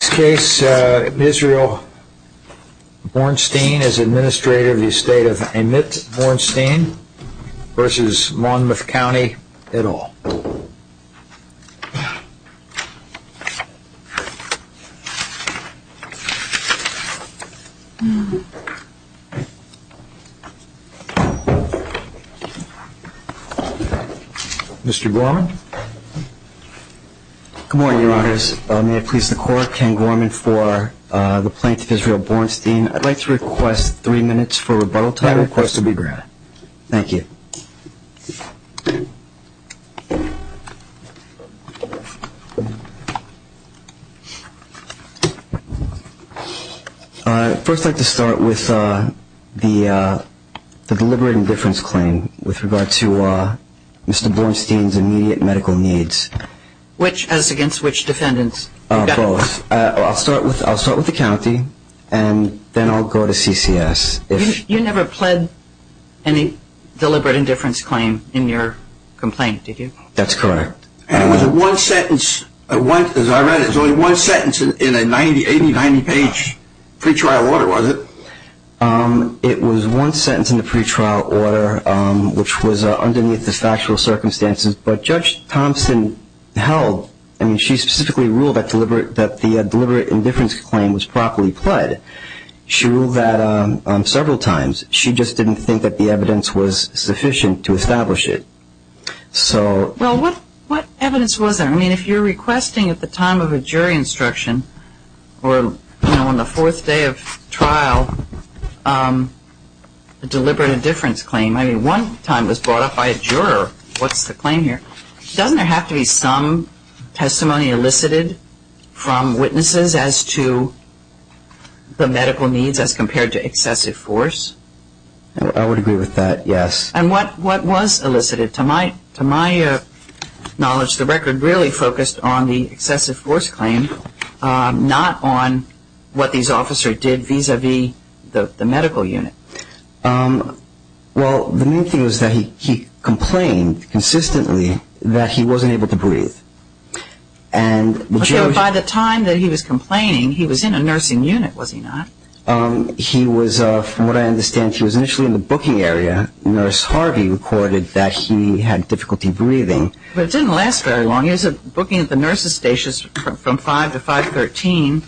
In this case, Israel Bornstein is administrator of the estate of Amit Bornstein v. Monmouth County, et al. Mr. Borman Good morning, your honors. May it please the court, Ken Borman for the plaintiff, Israel Bornstein. I'd like to request three minutes for rebuttal time. I request to be granted. Thank you. I'd first like to start with the deliberate indifference claim with regard to Mr. Bornstein's immediate medical needs. Which, as against which defendants? Both. I'll start with the county and then I'll go to CCS. You never pled any deliberate indifference claim in your complaint, did you? That's correct. And it was one sentence, as I read it, it was only one sentence in an 80-90 page pre-trial order, was it? It was one sentence in the pre-trial order, which was underneath the factual circumstances. But Judge Thompson held, I mean she specifically ruled that the deliberate indifference claim was properly pled. She ruled that several times. She just didn't think that the evidence was sufficient to establish it. Well, what evidence was there? I mean if you're requesting at the time of a jury instruction or on the fourth day of trial a deliberate indifference claim, I mean one time it was brought up by a juror, what's the claim here? Doesn't there have to be some testimony elicited from witnesses as to the medical needs as compared to excessive force? I would agree with that, yes. And what was elicited? To my knowledge, the record really focused on the excessive force claim, not on what these officers did vis-a-vis the medical unit. Well, the main thing was that he complained consistently that he wasn't able to breathe. By the time that he was complaining, he was in a nursing unit, was he not? He was, from what I understand, he was initially in the booking area. Nurse Harvey recorded that he had difficulty breathing. But it didn't last very long. He was booking at the nurses' stations from 5 to 5.13.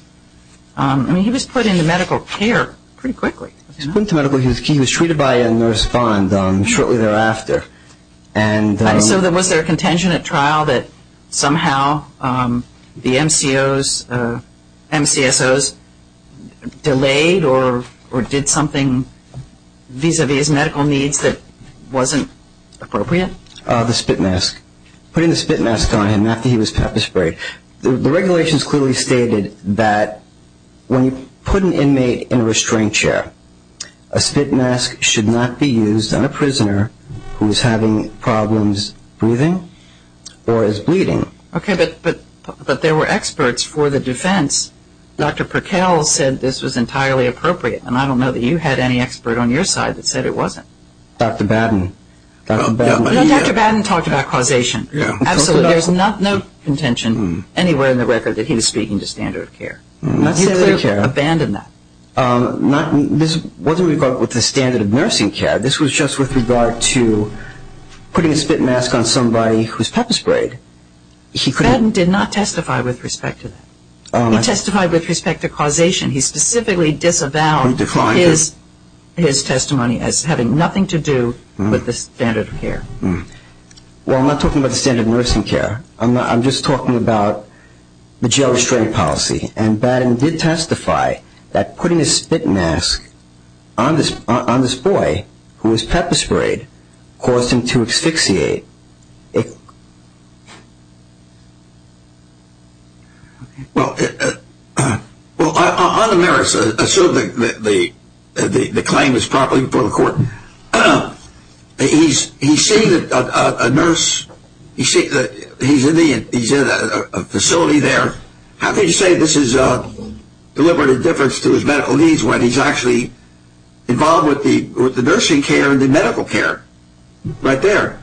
I mean he was put into medical care pretty quickly. He was put into medical care. He was treated by a nurse bond shortly thereafter. And so was there a contention at trial that somehow the MCSOs delayed or did something vis-a-vis medical needs that wasn't appropriate? The spit mask. Putting the spit mask on him after he was pepper sprayed. The regulations clearly stated that when you put an inmate in a restraint chair, a spit mask should not be used on a prisoner who is having problems breathing or is bleeding. Okay, but there were experts for the defense. Dr. Perkel said this was entirely appropriate, and I don't know that you had any expert on your side that said it wasn't. Dr. Batten. You know, Dr. Batten talked about causation. Absolutely, there's not no contention anywhere in the record that he was speaking to standard of care. He clearly abandoned that. This wasn't with regard to the standard of nursing care. This was just with regard to putting a spit mask on somebody who was pepper sprayed. Batten did not testify with respect to that. He testified with respect to causation. He specifically disavowed his testimony as having nothing to do with the standard of care. Well, I'm not talking about the standard of nursing care. I'm just talking about the jail restraint policy, and Batten did testify that putting a spit mask on this boy who was pepper sprayed caused him to asphyxiate. Well, on the merits, assuming the claim is properly before the court, he's seen a nurse, he's in a facility there. How can you say this is a deliberate indifference to his medical needs when he's actually involved with the nursing care and the medical care right there?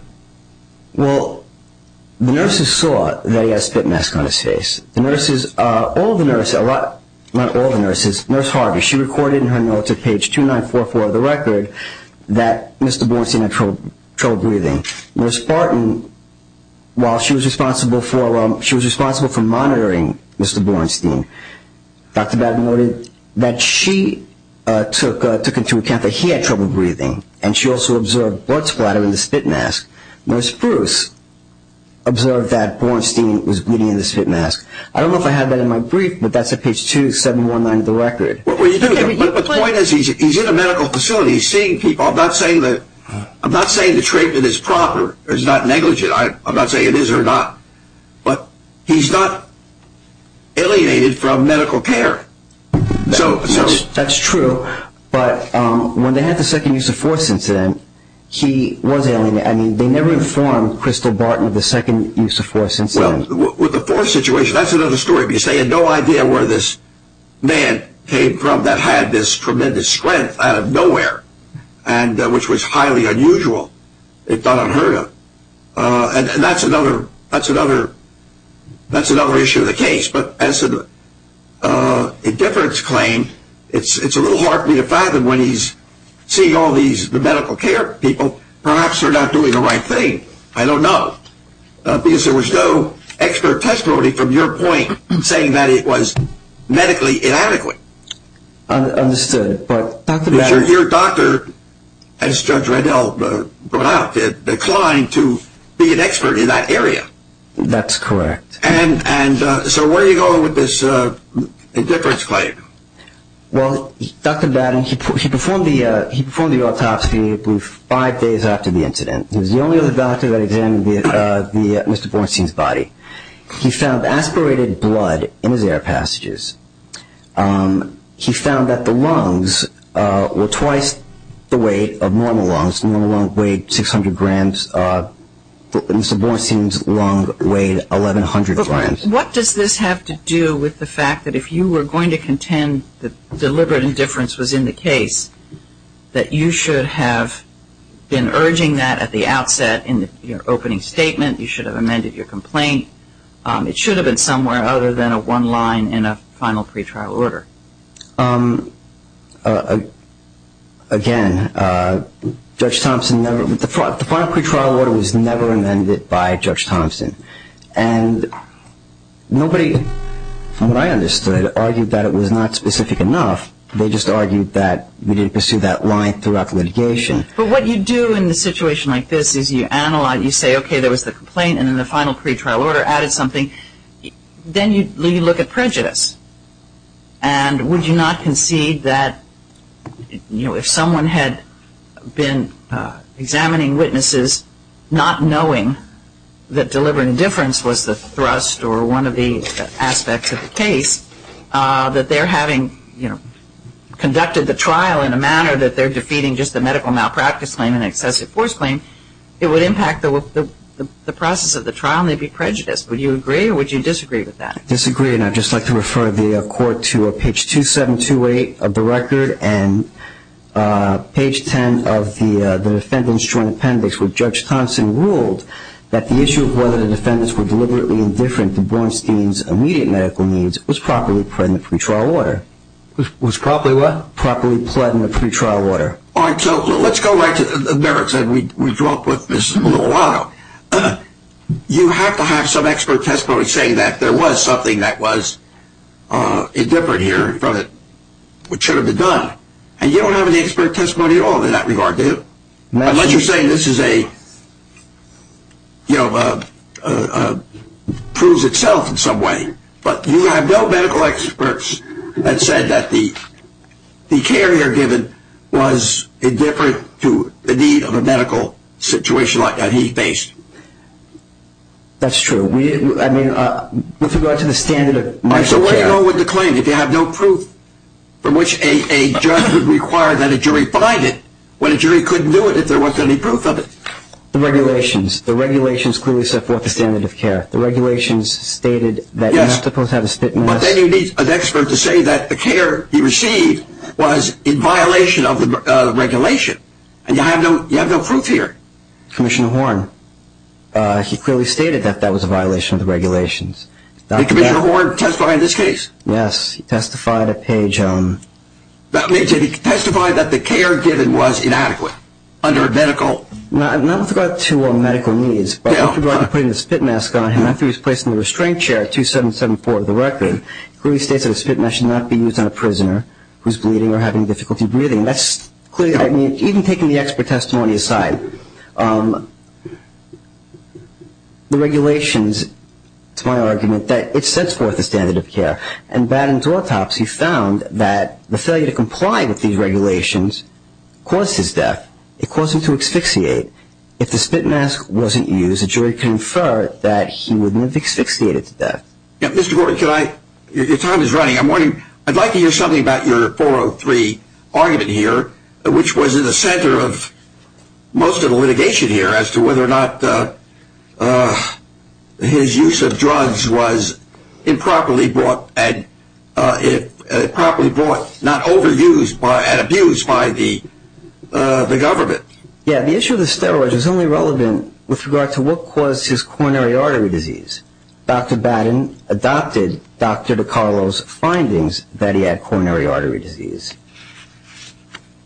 Well, the nurses saw that he had a spit mask on his face. The nurses, all the nurses, not all the nurses, Nurse Harvey, she recorded in her notes at page 2944 of the record that Mr. Bornstein had trouble breathing. Nurse Barton, while she was responsible for monitoring Mr. Bornstein, Dr. Batten noted that she took into account that he had trouble breathing, and she also observed blood splatter in the spit mask. Nurse Bruce observed that Bornstein was bleeding in the spit mask. I don't know if I had that in my brief, but that's at page 2719 of the record. But the point is he's in a medical facility. He's seeing people. I'm not saying the treatment is proper or is not negligent. I'm not saying it is or not. But he's not alienated from medical care. That's true. But when they had the second use of force incident, he was alienated. I mean, they never informed Crystal Barton of the second use of force incident. Well, with the force situation, that's another story. They had no idea where this man came from that had this tremendous strength out of nowhere, which was highly unusual. It got unheard of. And that's another issue of the case. But as an indifference claim, it's a little hard for me to fathom. When he's seeing all these medical care people, perhaps they're not doing the right thing. I don't know. Because there was no expert testimony from your point saying that it was medically inadequate. Understood. Your doctor, as Judge Reddell brought out, declined to be an expert in that area. That's correct. And so where are you going with this indifference claim? Well, Dr. Batten, he performed the autopsy, I believe, five days after the incident. He was the only other doctor that examined Mr. Bornstein's body. He found aspirated blood in his air passages. He found that the lungs were twice the weight of normal lungs. Normal lungs weighed 600 grams. Mr. Bornstein's lung weighed 1,100 grams. But what does this have to do with the fact that if you were going to contend that deliberate indifference was in the case, that you should have been urging that at the outset in your opening statement? You should have amended your complaint. It should have been somewhere other than a one line in a final pretrial order. Again, Judge Thompson never – the final pretrial order was never amended by Judge Thompson. And nobody, from what I understood, argued that it was not specific enough. They just argued that we didn't pursue that line throughout litigation. But what you do in a situation like this is you analyze. You say, okay, there was the complaint, and then the final pretrial order added something. Then you look at prejudice. And would you not concede that if someone had been examining witnesses, not knowing that deliberate indifference was the thrust or one of the aspects of the case, that they're having conducted the trial in a manner that they're defeating just the medical malpractice claim and excessive force claim, it would impact the process of the trial and they'd be prejudiced. Would you agree or would you disagree with that? I disagree, and I'd just like to refer the Court to page 2728 of the record and page 10 of the defendant's joint appendix, where Judge Thompson ruled that the issue of whether the defendants were deliberately indifferent to Bornstein's immediate medical needs was properly planned in the pretrial order. Was properly what? Properly planned in the pretrial order. All right. So let's go right to the merits that we dropped with Mrs. Mililano. You have to have some expert testimony saying that there was something that was indifferent here from what should have been done. And you don't have any expert testimony at all in that regard, do you? Unless you're saying this proves itself in some way. But you have no medical experts that said that the care here given was indifferent to the need of a medical situation like that he faced. That's true. I mean, with regard to the standard of medical care. So what do you know with the claim if you have no proof from which a judge would require that a jury find it when a jury couldn't do it if there wasn't any proof of it? The regulations. The regulations clearly set forth the standard of care. The regulations stated that you're not supposed to have a spit mask. But then you need an expert to say that the care he received was in violation of the regulation. And you have no proof here. Commissioner Horne. He clearly stated that that was a violation of the regulations. Did Commissioner Horne testify in this case? Yes. He testified at page... He testified that the care given was inadequate under medical... Not with regard to medical needs, but with regard to putting a spit mask on him, after he was placed in the restraint chair at 2774 of the record, clearly states that a spit mask should not be used on a prisoner who's bleeding or having difficulty breathing. That's clearly... Even taking the expert testimony aside, the regulations, to my argument, that it sets forth the standard of care. And Baden's autopsy found that the failure to comply with these regulations caused his death. It caused him to asphyxiate. If the spit mask wasn't used, a jury can infer that he would have asphyxiated to death. Mr. Gordon, your time is running. I'd like to hear something about your 403 argument here, which was in the center of most of the litigation here, as to whether or not his use of drugs was improperly brought... Improperly brought, not overused and abused by the government. Yeah, the issue of the steroids is only relevant with regard to what caused his coronary artery disease. Dr. Baden adopted Dr. DiCarlo's findings that he had coronary artery disease.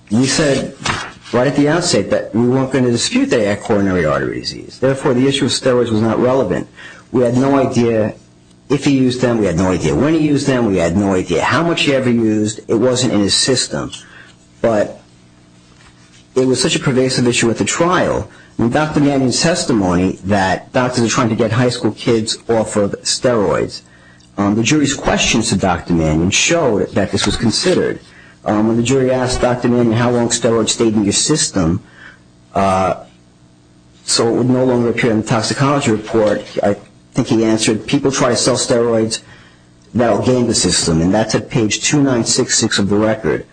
He said right at the outset that we weren't going to dispute that he had coronary artery disease. Therefore, the issue of steroids was not relevant. We had no idea if he used them. We had no idea when he used them. We had no idea how much he ever used. It wasn't in his system. But it was such a pervasive issue at the trial. In Dr. Mannion's testimony that doctors are trying to get high school kids off of steroids, the jury's questions to Dr. Mannion show that this was considered. When the jury asked Dr. Mannion how long steroids stayed in your system, so it would no longer appear in the toxicology report, I think he answered, people try to sell steroids that will gain the system. And that's at page 2966 of the record.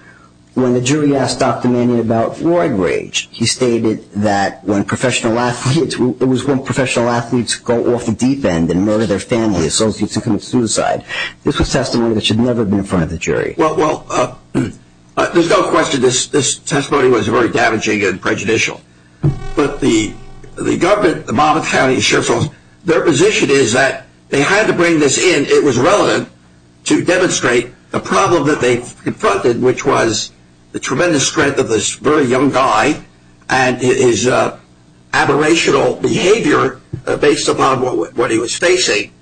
When the jury asked Dr. Mannion about drug rage, he stated that when professional athletes go off the deep end and murder their family associates and commit suicide, this was testimony that should never have been in front of the jury. Well, there's no question this testimony was very damaging and prejudicial. But the government, the mob of counties, the sheriff's office, their position is that they had to bring this in. It was relevant to demonstrate the problem that they confronted, which was the tremendous strength of this very young guy and his aberrational behavior based upon what he was facing.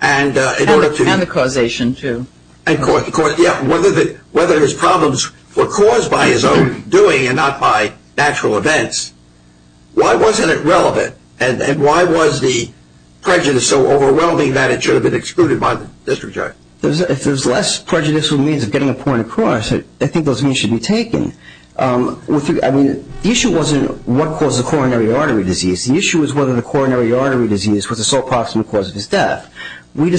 And the causation, too. Whether his problems were caused by his own doing and not by natural events, why wasn't it relevant? And why was the prejudice so overwhelming that it should have been excluded by the district judge? If there's less prejudicial means of getting a point across, I think those means should be taken. I mean, the issue wasn't what caused the coronary artery disease. The issue was whether the coronary artery disease was the sole proximate cause of his death. We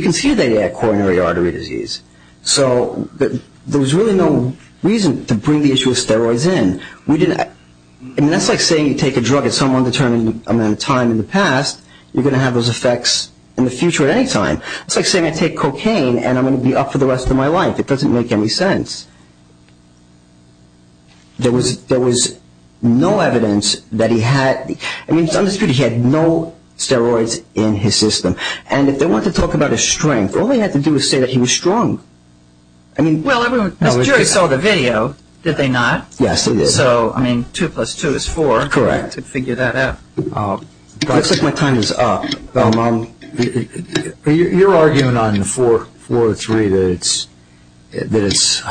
considered that he had coronary artery disease. So there was really no reason to bring the issue of steroids in. And that's like saying you take a drug at some undetermined amount of time in the past, you're going to have those effects in the future at any time. It's like saying I take cocaine and I'm going to be up for the rest of my life. It doesn't make any sense. There was no evidence that he had. I mean, he had no steroids in his system. And if they want to talk about his strength, all they have to do is say that he was strong. Well, the jury saw the video, did they not? Yes, they did. So, I mean, two plus two is four. Correct. To figure that out. It looks like my time is up. You're arguing on the floor three that it's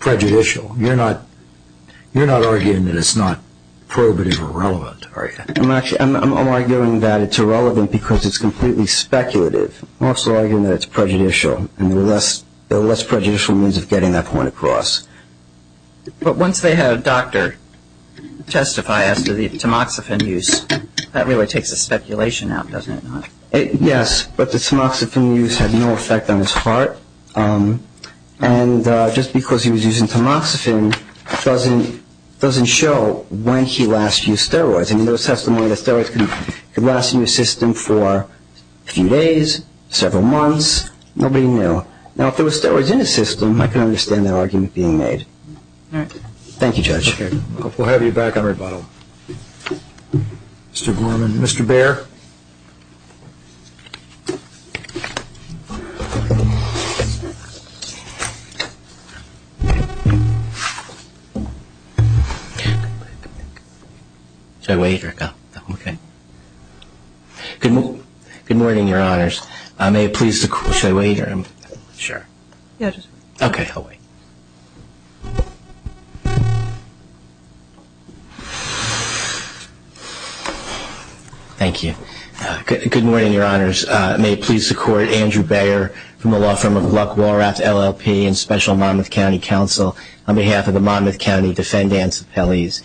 prejudicial. You're not arguing that it's not probative or relevant, are you? I'm arguing that it's irrelevant because it's completely speculative. I'm also arguing that it's prejudicial and the less prejudicial means of getting that point across. But once they have a doctor testify as to the tamoxifen use, that really takes the speculation out, doesn't it? Yes, but the tamoxifen use had no effect on his heart. And just because he was using tamoxifen doesn't show when he last used steroids. I mean, there was testimony that steroids could last in your system for a few days, several months. Nobody knew. Now, if there were steroids in his system, I could understand that argument being made. All right. Thank you, Judge. Thank you, Mr. Chairman. We'll have you back on rebuttal. Mr. Gorman. Mr. Baer. Should I wait or go? Okay. Good morning, Your Honors. May it please the Court, should I wait or go? Sure. Yeah, just wait. Okay, I'll wait. Thank you. Good morning, Your Honors. May it please the Court, Andrew Baer from the law firm of Luck-Walrath LLP and Special Monmouth County Counsel on behalf of the Monmouth County Defendants' Appellees.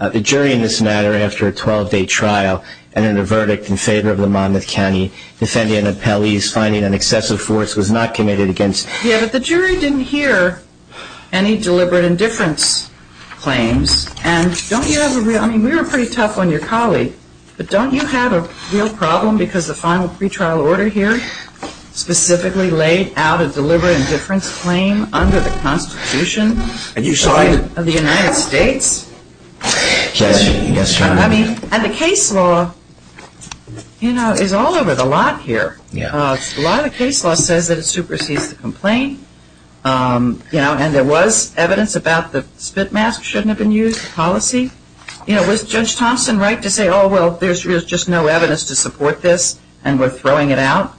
The jury in this matter, after a 12-day trial, entered a verdict in favor of the Monmouth County Defendant Appellees finding an excessive force was not committed against the defendant. The jury didn't hear any deliberate indifference claims. And don't you have a real – I mean, we were pretty tough on your colleague, but don't you have a real problem because the final pretrial order here specifically laid out a deliberate indifference claim under the Constitution of the United States? Yes, Your Honor. I mean, and the case law, you know, is all over the lot here. A lot of the case law says that it supersedes the complaint, you know, and there was evidence about the spit mask shouldn't have been used, the policy. You know, was Judge Thompson right to say, oh, well, there's just no evidence to support this and we're throwing it out?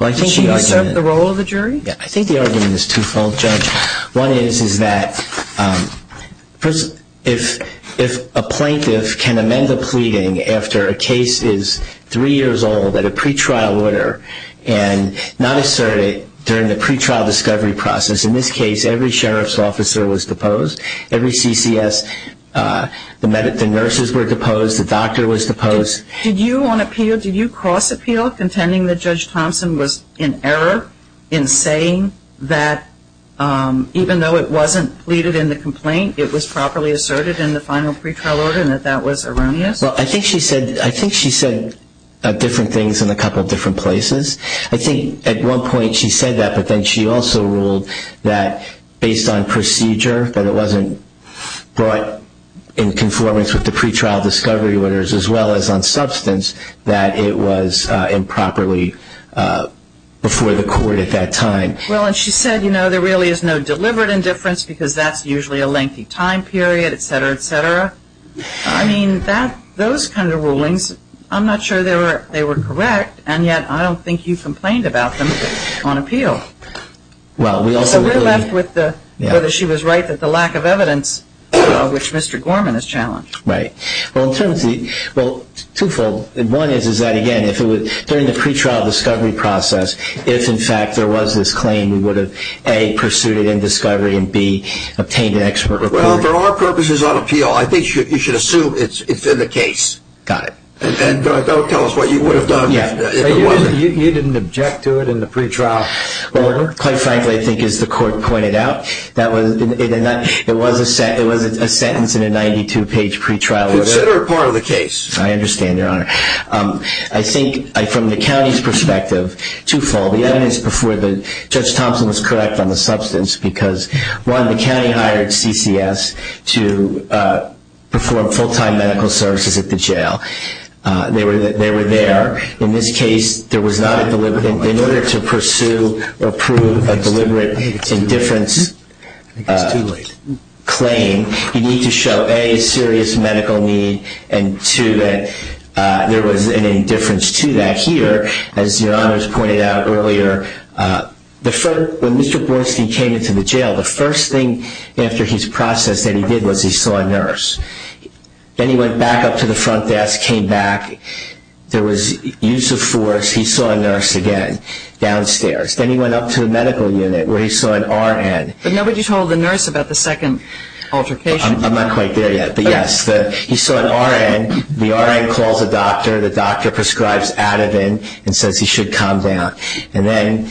Well, I think the argument – Did she serve the role of the jury? Yeah, I think the argument is twofold, Judge. One is that if a plaintiff can amend a pleading after a case is three years old at a pretrial order and not assert it during the pretrial discovery process, in this case every sheriff's officer was deposed, every CCS, the nurses were deposed, the doctor was deposed. Did you on appeal, did you cross appeal contending that Judge Thompson was in error in saying that even though it wasn't pleaded in the complaint, it was properly asserted in the final pretrial order and that that was erroneous? Well, I think she said different things in a couple of different places. I think at one point she said that, but then she also ruled that based on procedure, that it wasn't brought in conformance with the pretrial discovery orders as well as on substance, that it was improperly before the court at that time. Well, and she said, you know, there really is no deliberate indifference because that's usually a lengthy time period, et cetera, et cetera. I mean, those kind of rulings, I'm not sure they were correct, and yet I don't think you complained about them on appeal. So we're left with whether she was right that the lack of evidence, which Mr. Gorman has challenged. Right. Well, twofold. One is that, again, during the pretrial discovery process, if in fact there was this claim, we would have, A, pursued it in discovery and, B, obtained an expert report. Well, for our purposes on appeal, I think you should assume it's in the case. Got it. And don't tell us what you would have done if it wasn't. You didn't object to it in the pretrial order? Quite frankly, I think as the court pointed out, it was a sentence in a 92-page pretrial order. Consider it part of the case. I understand, Your Honor. I think from the county's perspective, twofold. The evidence before Judge Thompson was correct on the substance because, one, the county hired CCS to perform full-time medical services at the jail. They were there. In this case, in order to pursue or prove a deliberate indifference claim, you need to show, A, serious medical need and, two, that there was an indifference to that. Here, as Your Honor has pointed out earlier, when Mr. Borstein came into the jail, the first thing after his process that he did was he saw a nurse. Then he went back up to the front desk, came back. There was use of force. He saw a nurse again downstairs. Then he went up to the medical unit where he saw an RN. But nobody told the nurse about the second altercation. I'm not quite there yet. But, yes, he saw an RN. The RN calls a doctor. The doctor prescribes Ativan and says he should calm down. Then,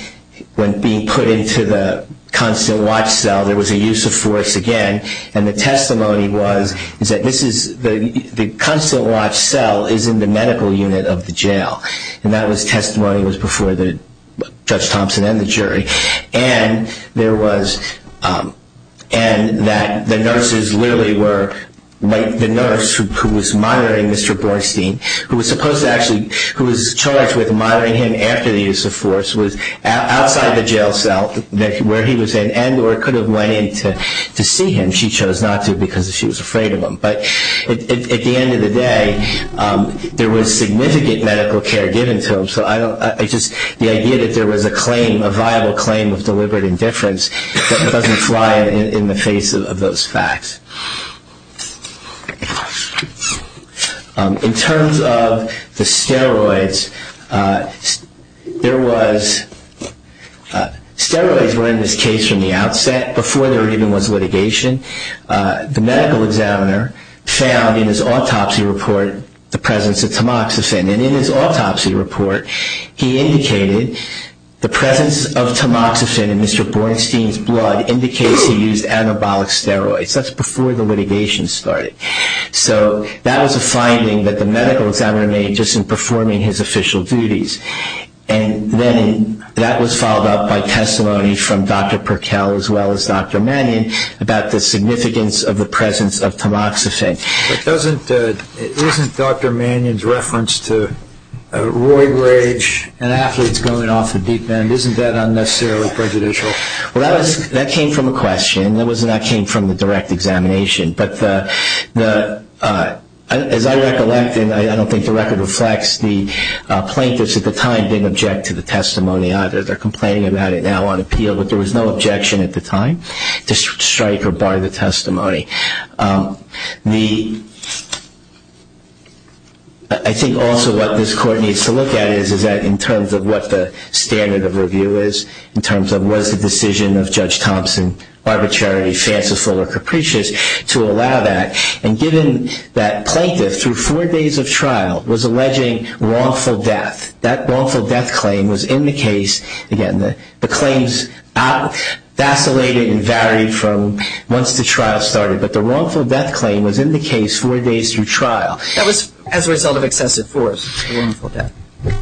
when being put into the constant watch cell, there was a use of force again. The testimony was that the constant watch cell is in the medical unit of the jail. That testimony was before Judge Thompson and the jury. And that the nurses literally were like the nurse who was monitoring Mr. Borstein, who was supposed to actually, who was charged with monitoring him after the use of force, was outside the jail cell where he was in and or could have went in to see him. She chose not to because she was afraid of him. But, at the end of the day, there was significant medical care given to him. The idea that there was a claim, a viable claim of deliberate indifference, doesn't fly in the face of those facts. In terms of the steroids, there was, steroids were in this case from the outset, before there even was litigation. The medical examiner found in his autopsy report the presence of tamoxifen. And in his autopsy report, he indicated the presence of tamoxifen in Mr. Borstein's blood indicates he used anabolic steroids. That's before the litigation started. So that was a finding that the medical examiner made just in performing his official duties. And then that was followed up by testimony from Dr. Perkel as well as Dr. Mannion about the significance of the presence of tamoxifen. But isn't Dr. Mannion's reference to a royal rage and athletes going off the deep end, isn't that unnecessarily prejudicial? Well, that came from a question. That came from the direct examination. But as I recollect, and I don't think the record reflects, the plaintiffs at the time didn't object to the testimony either. They're complaining about it now on appeal. But there was no objection at the time to strike or bar the testimony. I think also what this court needs to look at is that in terms of what the standard of review is, in terms of was the decision of Judge Thompson arbitrary, fanciful, or capricious to allow that. And given that plaintiff through four days of trial was alleging wrongful death, that wrongful death claim was in the case. Again, the claims vacillated and varied from once the trial started. But the wrongful death claim was in the case four days through trial. That was as a result of excessive force, the wrongful death,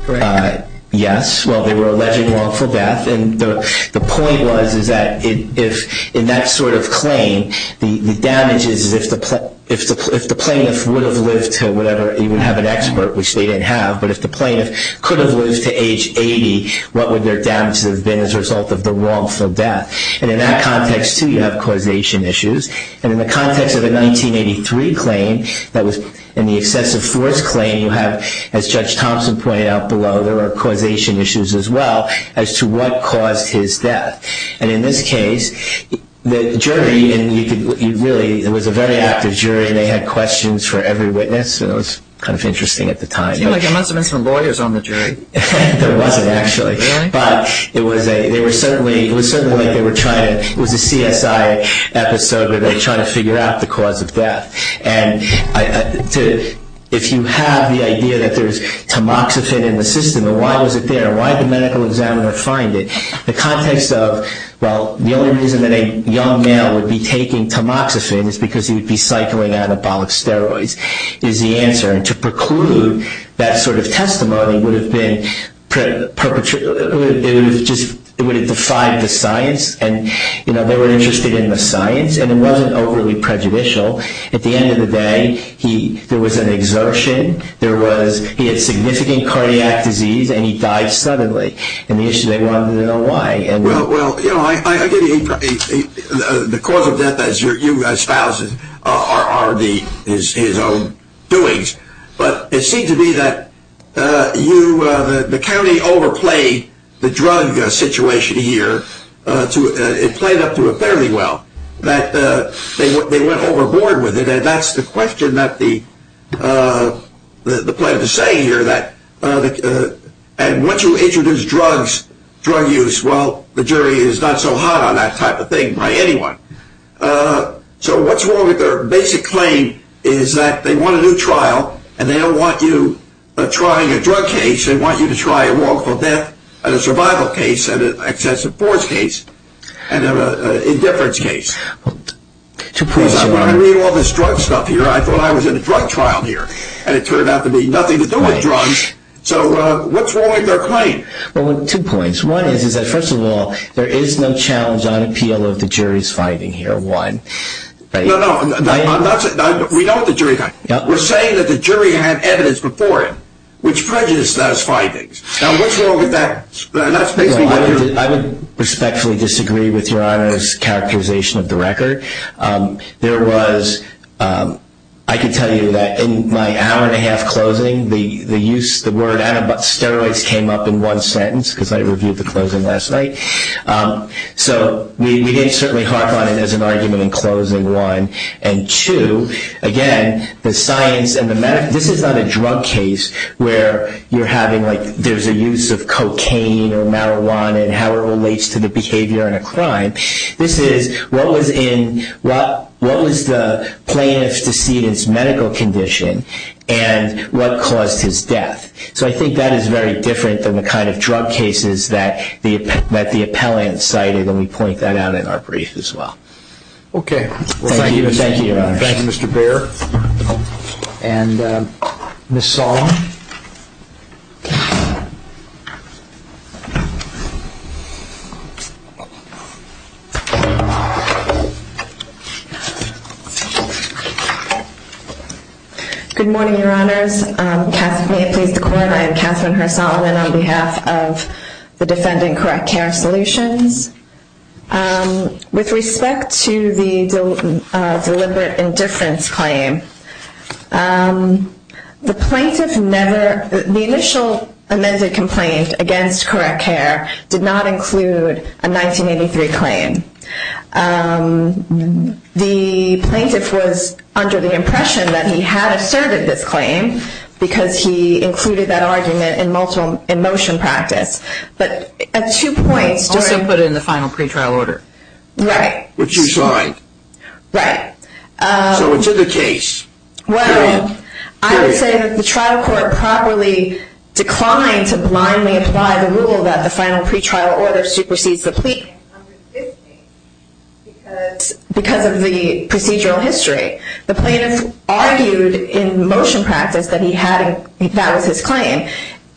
correct? Yes. Well, they were alleging wrongful death. And the point was is that in that sort of claim, the damage is if the plaintiff would have lived to whatever, he would have an expert, which they didn't have. But if the plaintiff could have lived to age 80, what would their damage have been as a result of the wrongful death? And in that context, too, you have causation issues. And in the context of a 1983 claim that was in the excessive force claim, you have, as Judge Thompson pointed out below, there are causation issues as well as to what caused his death. And in this case, the jury, and really it was a very active jury, and they had questions for every witness. It was kind of interesting at the time. It seemed like there must have been some lawyers on the jury. There wasn't, actually. Really? But it was certainly like it was a CSI episode where they're trying to figure out the cause of death. And if you have the idea that there's tamoxifen in the system, then why was it there and why did the medical examiner find it? The context of, well, the only reason that a young male would be taking tamoxifen is because he would be cycling on anabolic steroids is the answer. And to preclude that sort of testimony would have defied the science. And, you know, they were interested in the science, and it wasn't overly prejudicial. At the end of the day, there was an exertion. He had significant cardiac disease, and he died suddenly. And they wanted to know why. Well, you know, the cause of death, as you espoused, are his own doings. But it seemed to me that the county overplayed the drug situation here. It played up to it fairly well, that they went overboard with it. And that's the question that the plaintiff is saying here. And once you introduce drugs, drug use, well, the jury is not so hot on that type of thing by anyone. So what's wrong with their basic claim is that they want a new trial, and they don't want you trying a drug case. They want you to try a wrongful death and a survival case and an excessive force case and an indifference case. Because I'm going to read all this drug stuff here. I thought I was in a drug trial here, and it turned out to be nothing to do with drugs. So what's wrong with their claim? Well, two points. One is that, first of all, there is no challenge on appeal of the jury's finding here, one. No, no. We know what the jury found. We're saying that the jury had evidence before him which prejudiced those findings. Now, what's wrong with that? I would respectfully disagree with Your Honor's characterization of the record. There was, I can tell you that in my hour-and-a-half closing, the use of the word antibody, steroids, came up in one sentence, because I reviewed the closing last night. So we didn't certainly harp on it as an argument in closing, one. And two, again, the science and the medical, this is not a drug case where you're having, like, there's a use of cocaine or marijuana and how it relates to the behavior in a crime. This is what was the plaintiff's decedent's medical condition and what caused his death. So I think that is very different than the kind of drug cases that the appellant cited, and we point that out in our brief as well. Okay. Thank you, Your Honor. Thank you, Mr. Baer. And Ms. Solomon. Good morning, Your Honors. May it please the Court, I am Catherine Her-Solomon on behalf of the defendant Correct Care Solutions. With respect to the deliberate indifference claim, the plaintiff never, the initial amended complaint against Correct Care did not include a 1983 claim. The plaintiff was under the impression that he had asserted this claim, because he included that argument in motion practice. But at two points. Also put it in the final pretrial order. Right. Which you signed. Right. So it's in the case. Well, I would say that the trial court properly declined to blindly apply the rule that the final pretrial order supersedes the plea because of the procedural history. The plaintiff argued in motion practice that he had, that was his claim.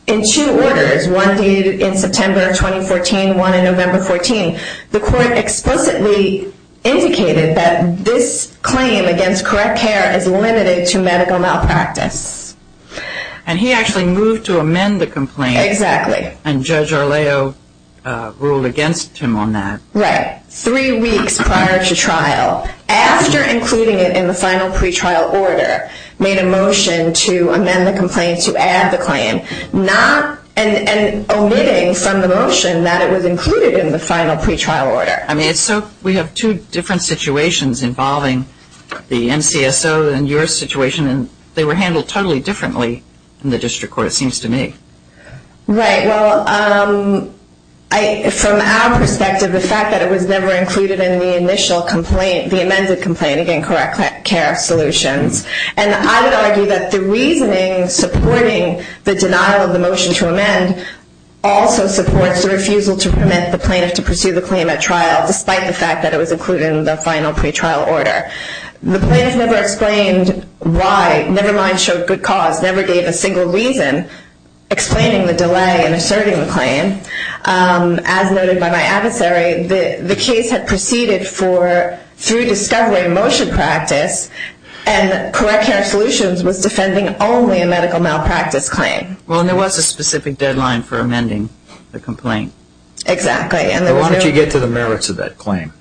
In two orders, one dated in September of 2014, one in November 14, the court explicitly indicated that this claim against Correct Care is limited to medical malpractice. And he actually moved to amend the complaint. Exactly. And Judge Arleo ruled against him on that. Right. Three weeks prior to trial. After including it in the final pretrial order, made a motion to amend the complaint to add the claim. Not, and omitting from the motion that it was included in the final pretrial order. I mean, so we have two different situations involving the NCSO and your situation. And they were handled totally differently in the district court, it seems to me. Right. Well, from our perspective, the fact that it was never included in the initial complaint, the amended complaint, again, Correct Care solutions. And I would argue that the reasoning supporting the denial of the motion to amend also supports the refusal to permit the plaintiff to pursue the claim at trial, despite the fact that it was included in the final pretrial order. The plaintiff never explained why, never mind showed good cause, never gave a single reason explaining the delay in asserting the claim. As noted by my adversary, the case had proceeded through discovery motion practice and Correct Care solutions was defending only a medical malpractice claim. Well, and there was a specific deadline for amending the complaint. Exactly. Why don't you get to the merits of that claim,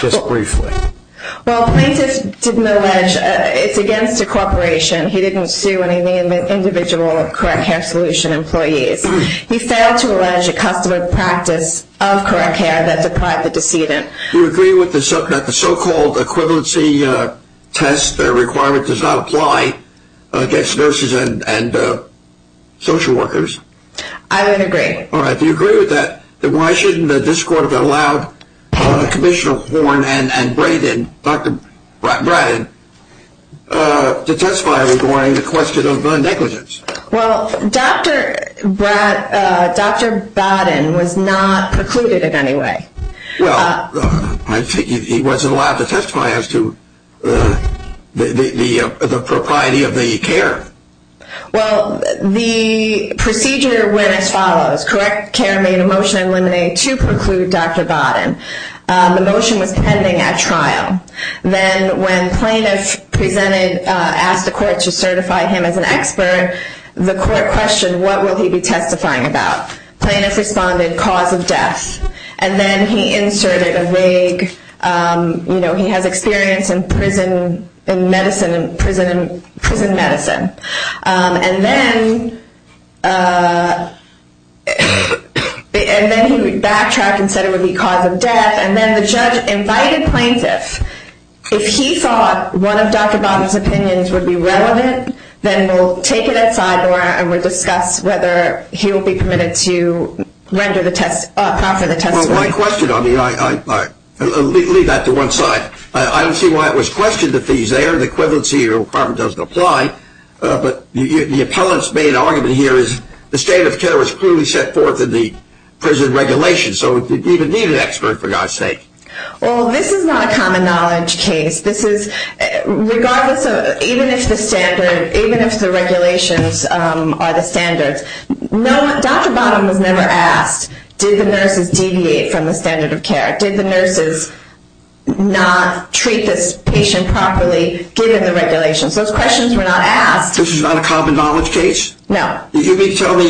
just briefly. Well, the plaintiff didn't allege it's against a corporation. He didn't sue any individual Correct Care solution employees. He failed to allege a customary practice of Correct Care that deprived the decedent. Do you agree that the so-called equivalency test requirement does not apply against nurses and social workers? I would agree. All right. Well, Commissioner Horne and Braden, Dr. Braden, to testify regarding the question of negligence. Well, Dr. Braden was not precluded in any way. Well, I figured he wasn't allowed to testify as to the propriety of the care. Well, the procedure went as follows. Correct Care made a motion to eliminate to preclude Dr. Bodden. The motion was pending at trial. Then when plaintiff presented, asked the court to certify him as an expert, the court questioned what will he be testifying about. Plaintiff responded, cause of death. And then he inserted a vague, you know, he has experience in prison medicine. And then he backtracked and said it would be cause of death. And then the judge invited plaintiff. If he thought one of Dr. Bodden's opinions would be relevant, then we'll take it outside, Nora, and we'll discuss whether he will be permitted to render the test, proffer the test. Well, my question, I mean, I'll leave that to one side. I don't see why it was questioned that these, there are the equivalency requirement doesn't apply. But the appellant's main argument here is the state of care was clearly set forth in the prison regulations. So it didn't even need an expert, for God's sake. Well, this is not a common knowledge case. This is regardless of, even if the standard, even if the regulations are the standards. Dr. Bodden was never asked, did the nurses deviate from the standard of care? Did the nurses not treat this patient properly given the regulations? Those questions were not asked. This is not a common knowledge case? No. You mean to tell me,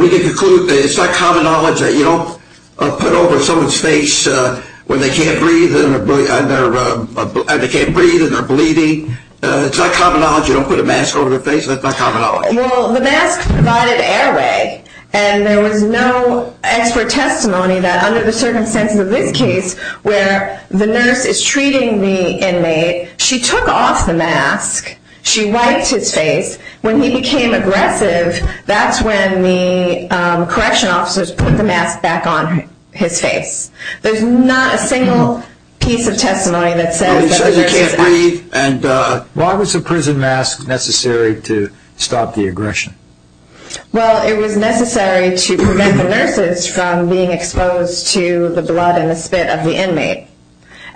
we can conclude, it's not common knowledge that you don't put over someone's face when they can't breathe and they're bleeding? It's not common knowledge you don't put a mask over their face? That's not common knowledge? Well, the mask provided airway. And there was no expert testimony that under the circumstances of this case where the nurse is treating the inmate, she took off the mask. She wiped his face. When he became aggressive, that's when the correction officers put the mask back on his face. There's not a single piece of testimony that says that the nurse can't breathe. Why was the prison mask necessary to stop the aggression? Well, it was necessary to prevent the nurses from being exposed to the blood and the spit of the inmate.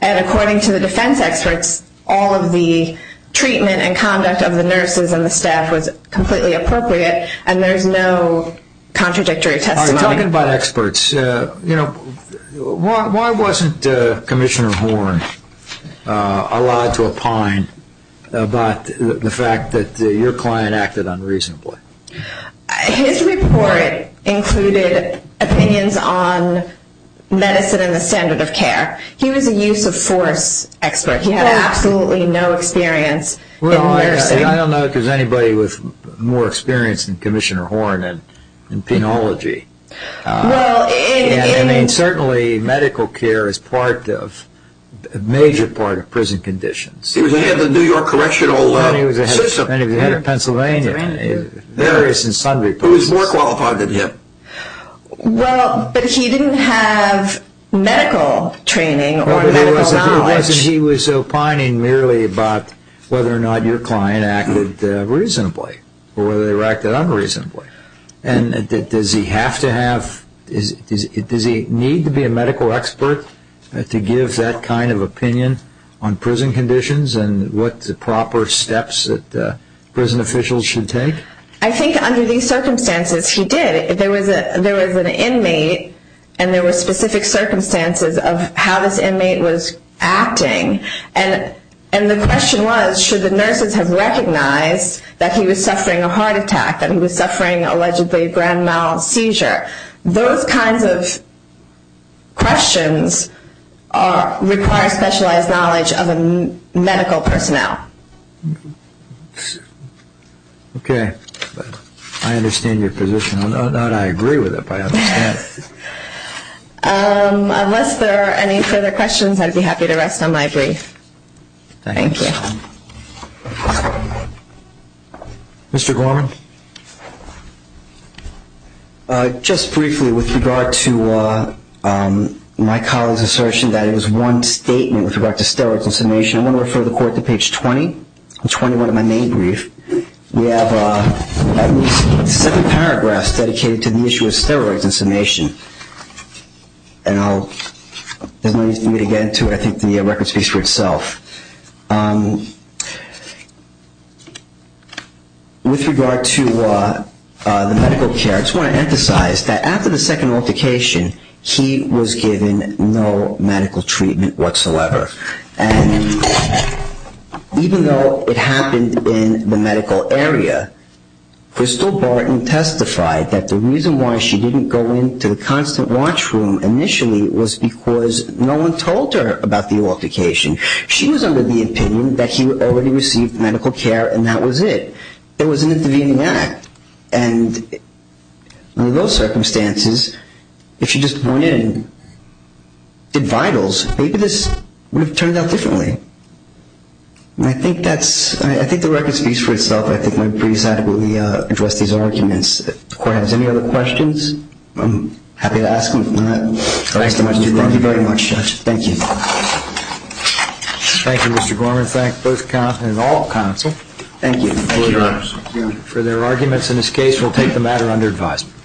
And according to the defense experts, all of the treatment and conduct of the nurses and the staff was completely appropriate, and there's no contradictory testimony. All right, talking about experts, why wasn't Commissioner Horn allowed to opine about the fact that your client acted unreasonably? His report included opinions on medicine and the standard of care. He was a use-of-force expert. He had absolutely no experience in nursing. Well, I don't know if there's anybody with more experience than Commissioner Horn in penology. Well, in – And certainly medical care is part of – a major part of prison conditions. He was ahead of the New York correctional system. He was ahead of Pennsylvania in various and sundry places. He was more qualified than him. Well, but he didn't have medical training or medical knowledge. He was opining merely about whether or not your client acted reasonably or whether they acted unreasonably. And does he have to have – does he need to be a medical expert to give that kind of opinion on prison conditions and what the proper steps that prison officials should take? I think under these circumstances he did. There was an inmate, and there were specific circumstances of how this inmate was acting. And the question was should the nurses have recognized that he was suffering a heart attack, that he was suffering allegedly a grand mal seizure. Those kinds of questions require specialized knowledge of a medical personnel. Okay. I understand your position. Not that I agree with it, but I understand. Unless there are any further questions, I'd be happy to rest on my brief. Thank you. Thank you. Mr. Gorman? Just briefly with regard to my colleague's assertion that it was one statement with regard to steroids and summation, I want to refer the Court to page 20 and 21 of my main brief. We have seven paragraphs dedicated to the issue of steroids and summation. And I'll – there's no need for me to get into it. I think the record speaks for itself. With regard to the medical care, I just want to emphasize that after the second altercation, he was given no medical treatment whatsoever. And even though it happened in the medical area, Crystal Barton testified that the reason why she didn't go into the constant watch room initially was because no one told her about the altercation. She was under the opinion that he already received medical care and that was it. It was an intervening act. And under those circumstances, if she just went in and did vitals, maybe this would have turned out differently. And I think that's – I think the record speaks for itself. I think my briefs adequately address these arguments. If the Court has any other questions, I'm happy to ask them. Thank you very much, Judge. Thank you. Thank you, Mr. Gorman. Thank both – and all counsel. Thank you. Thank you, Your Honor. For their arguments in this case, we'll take the matter under advisement.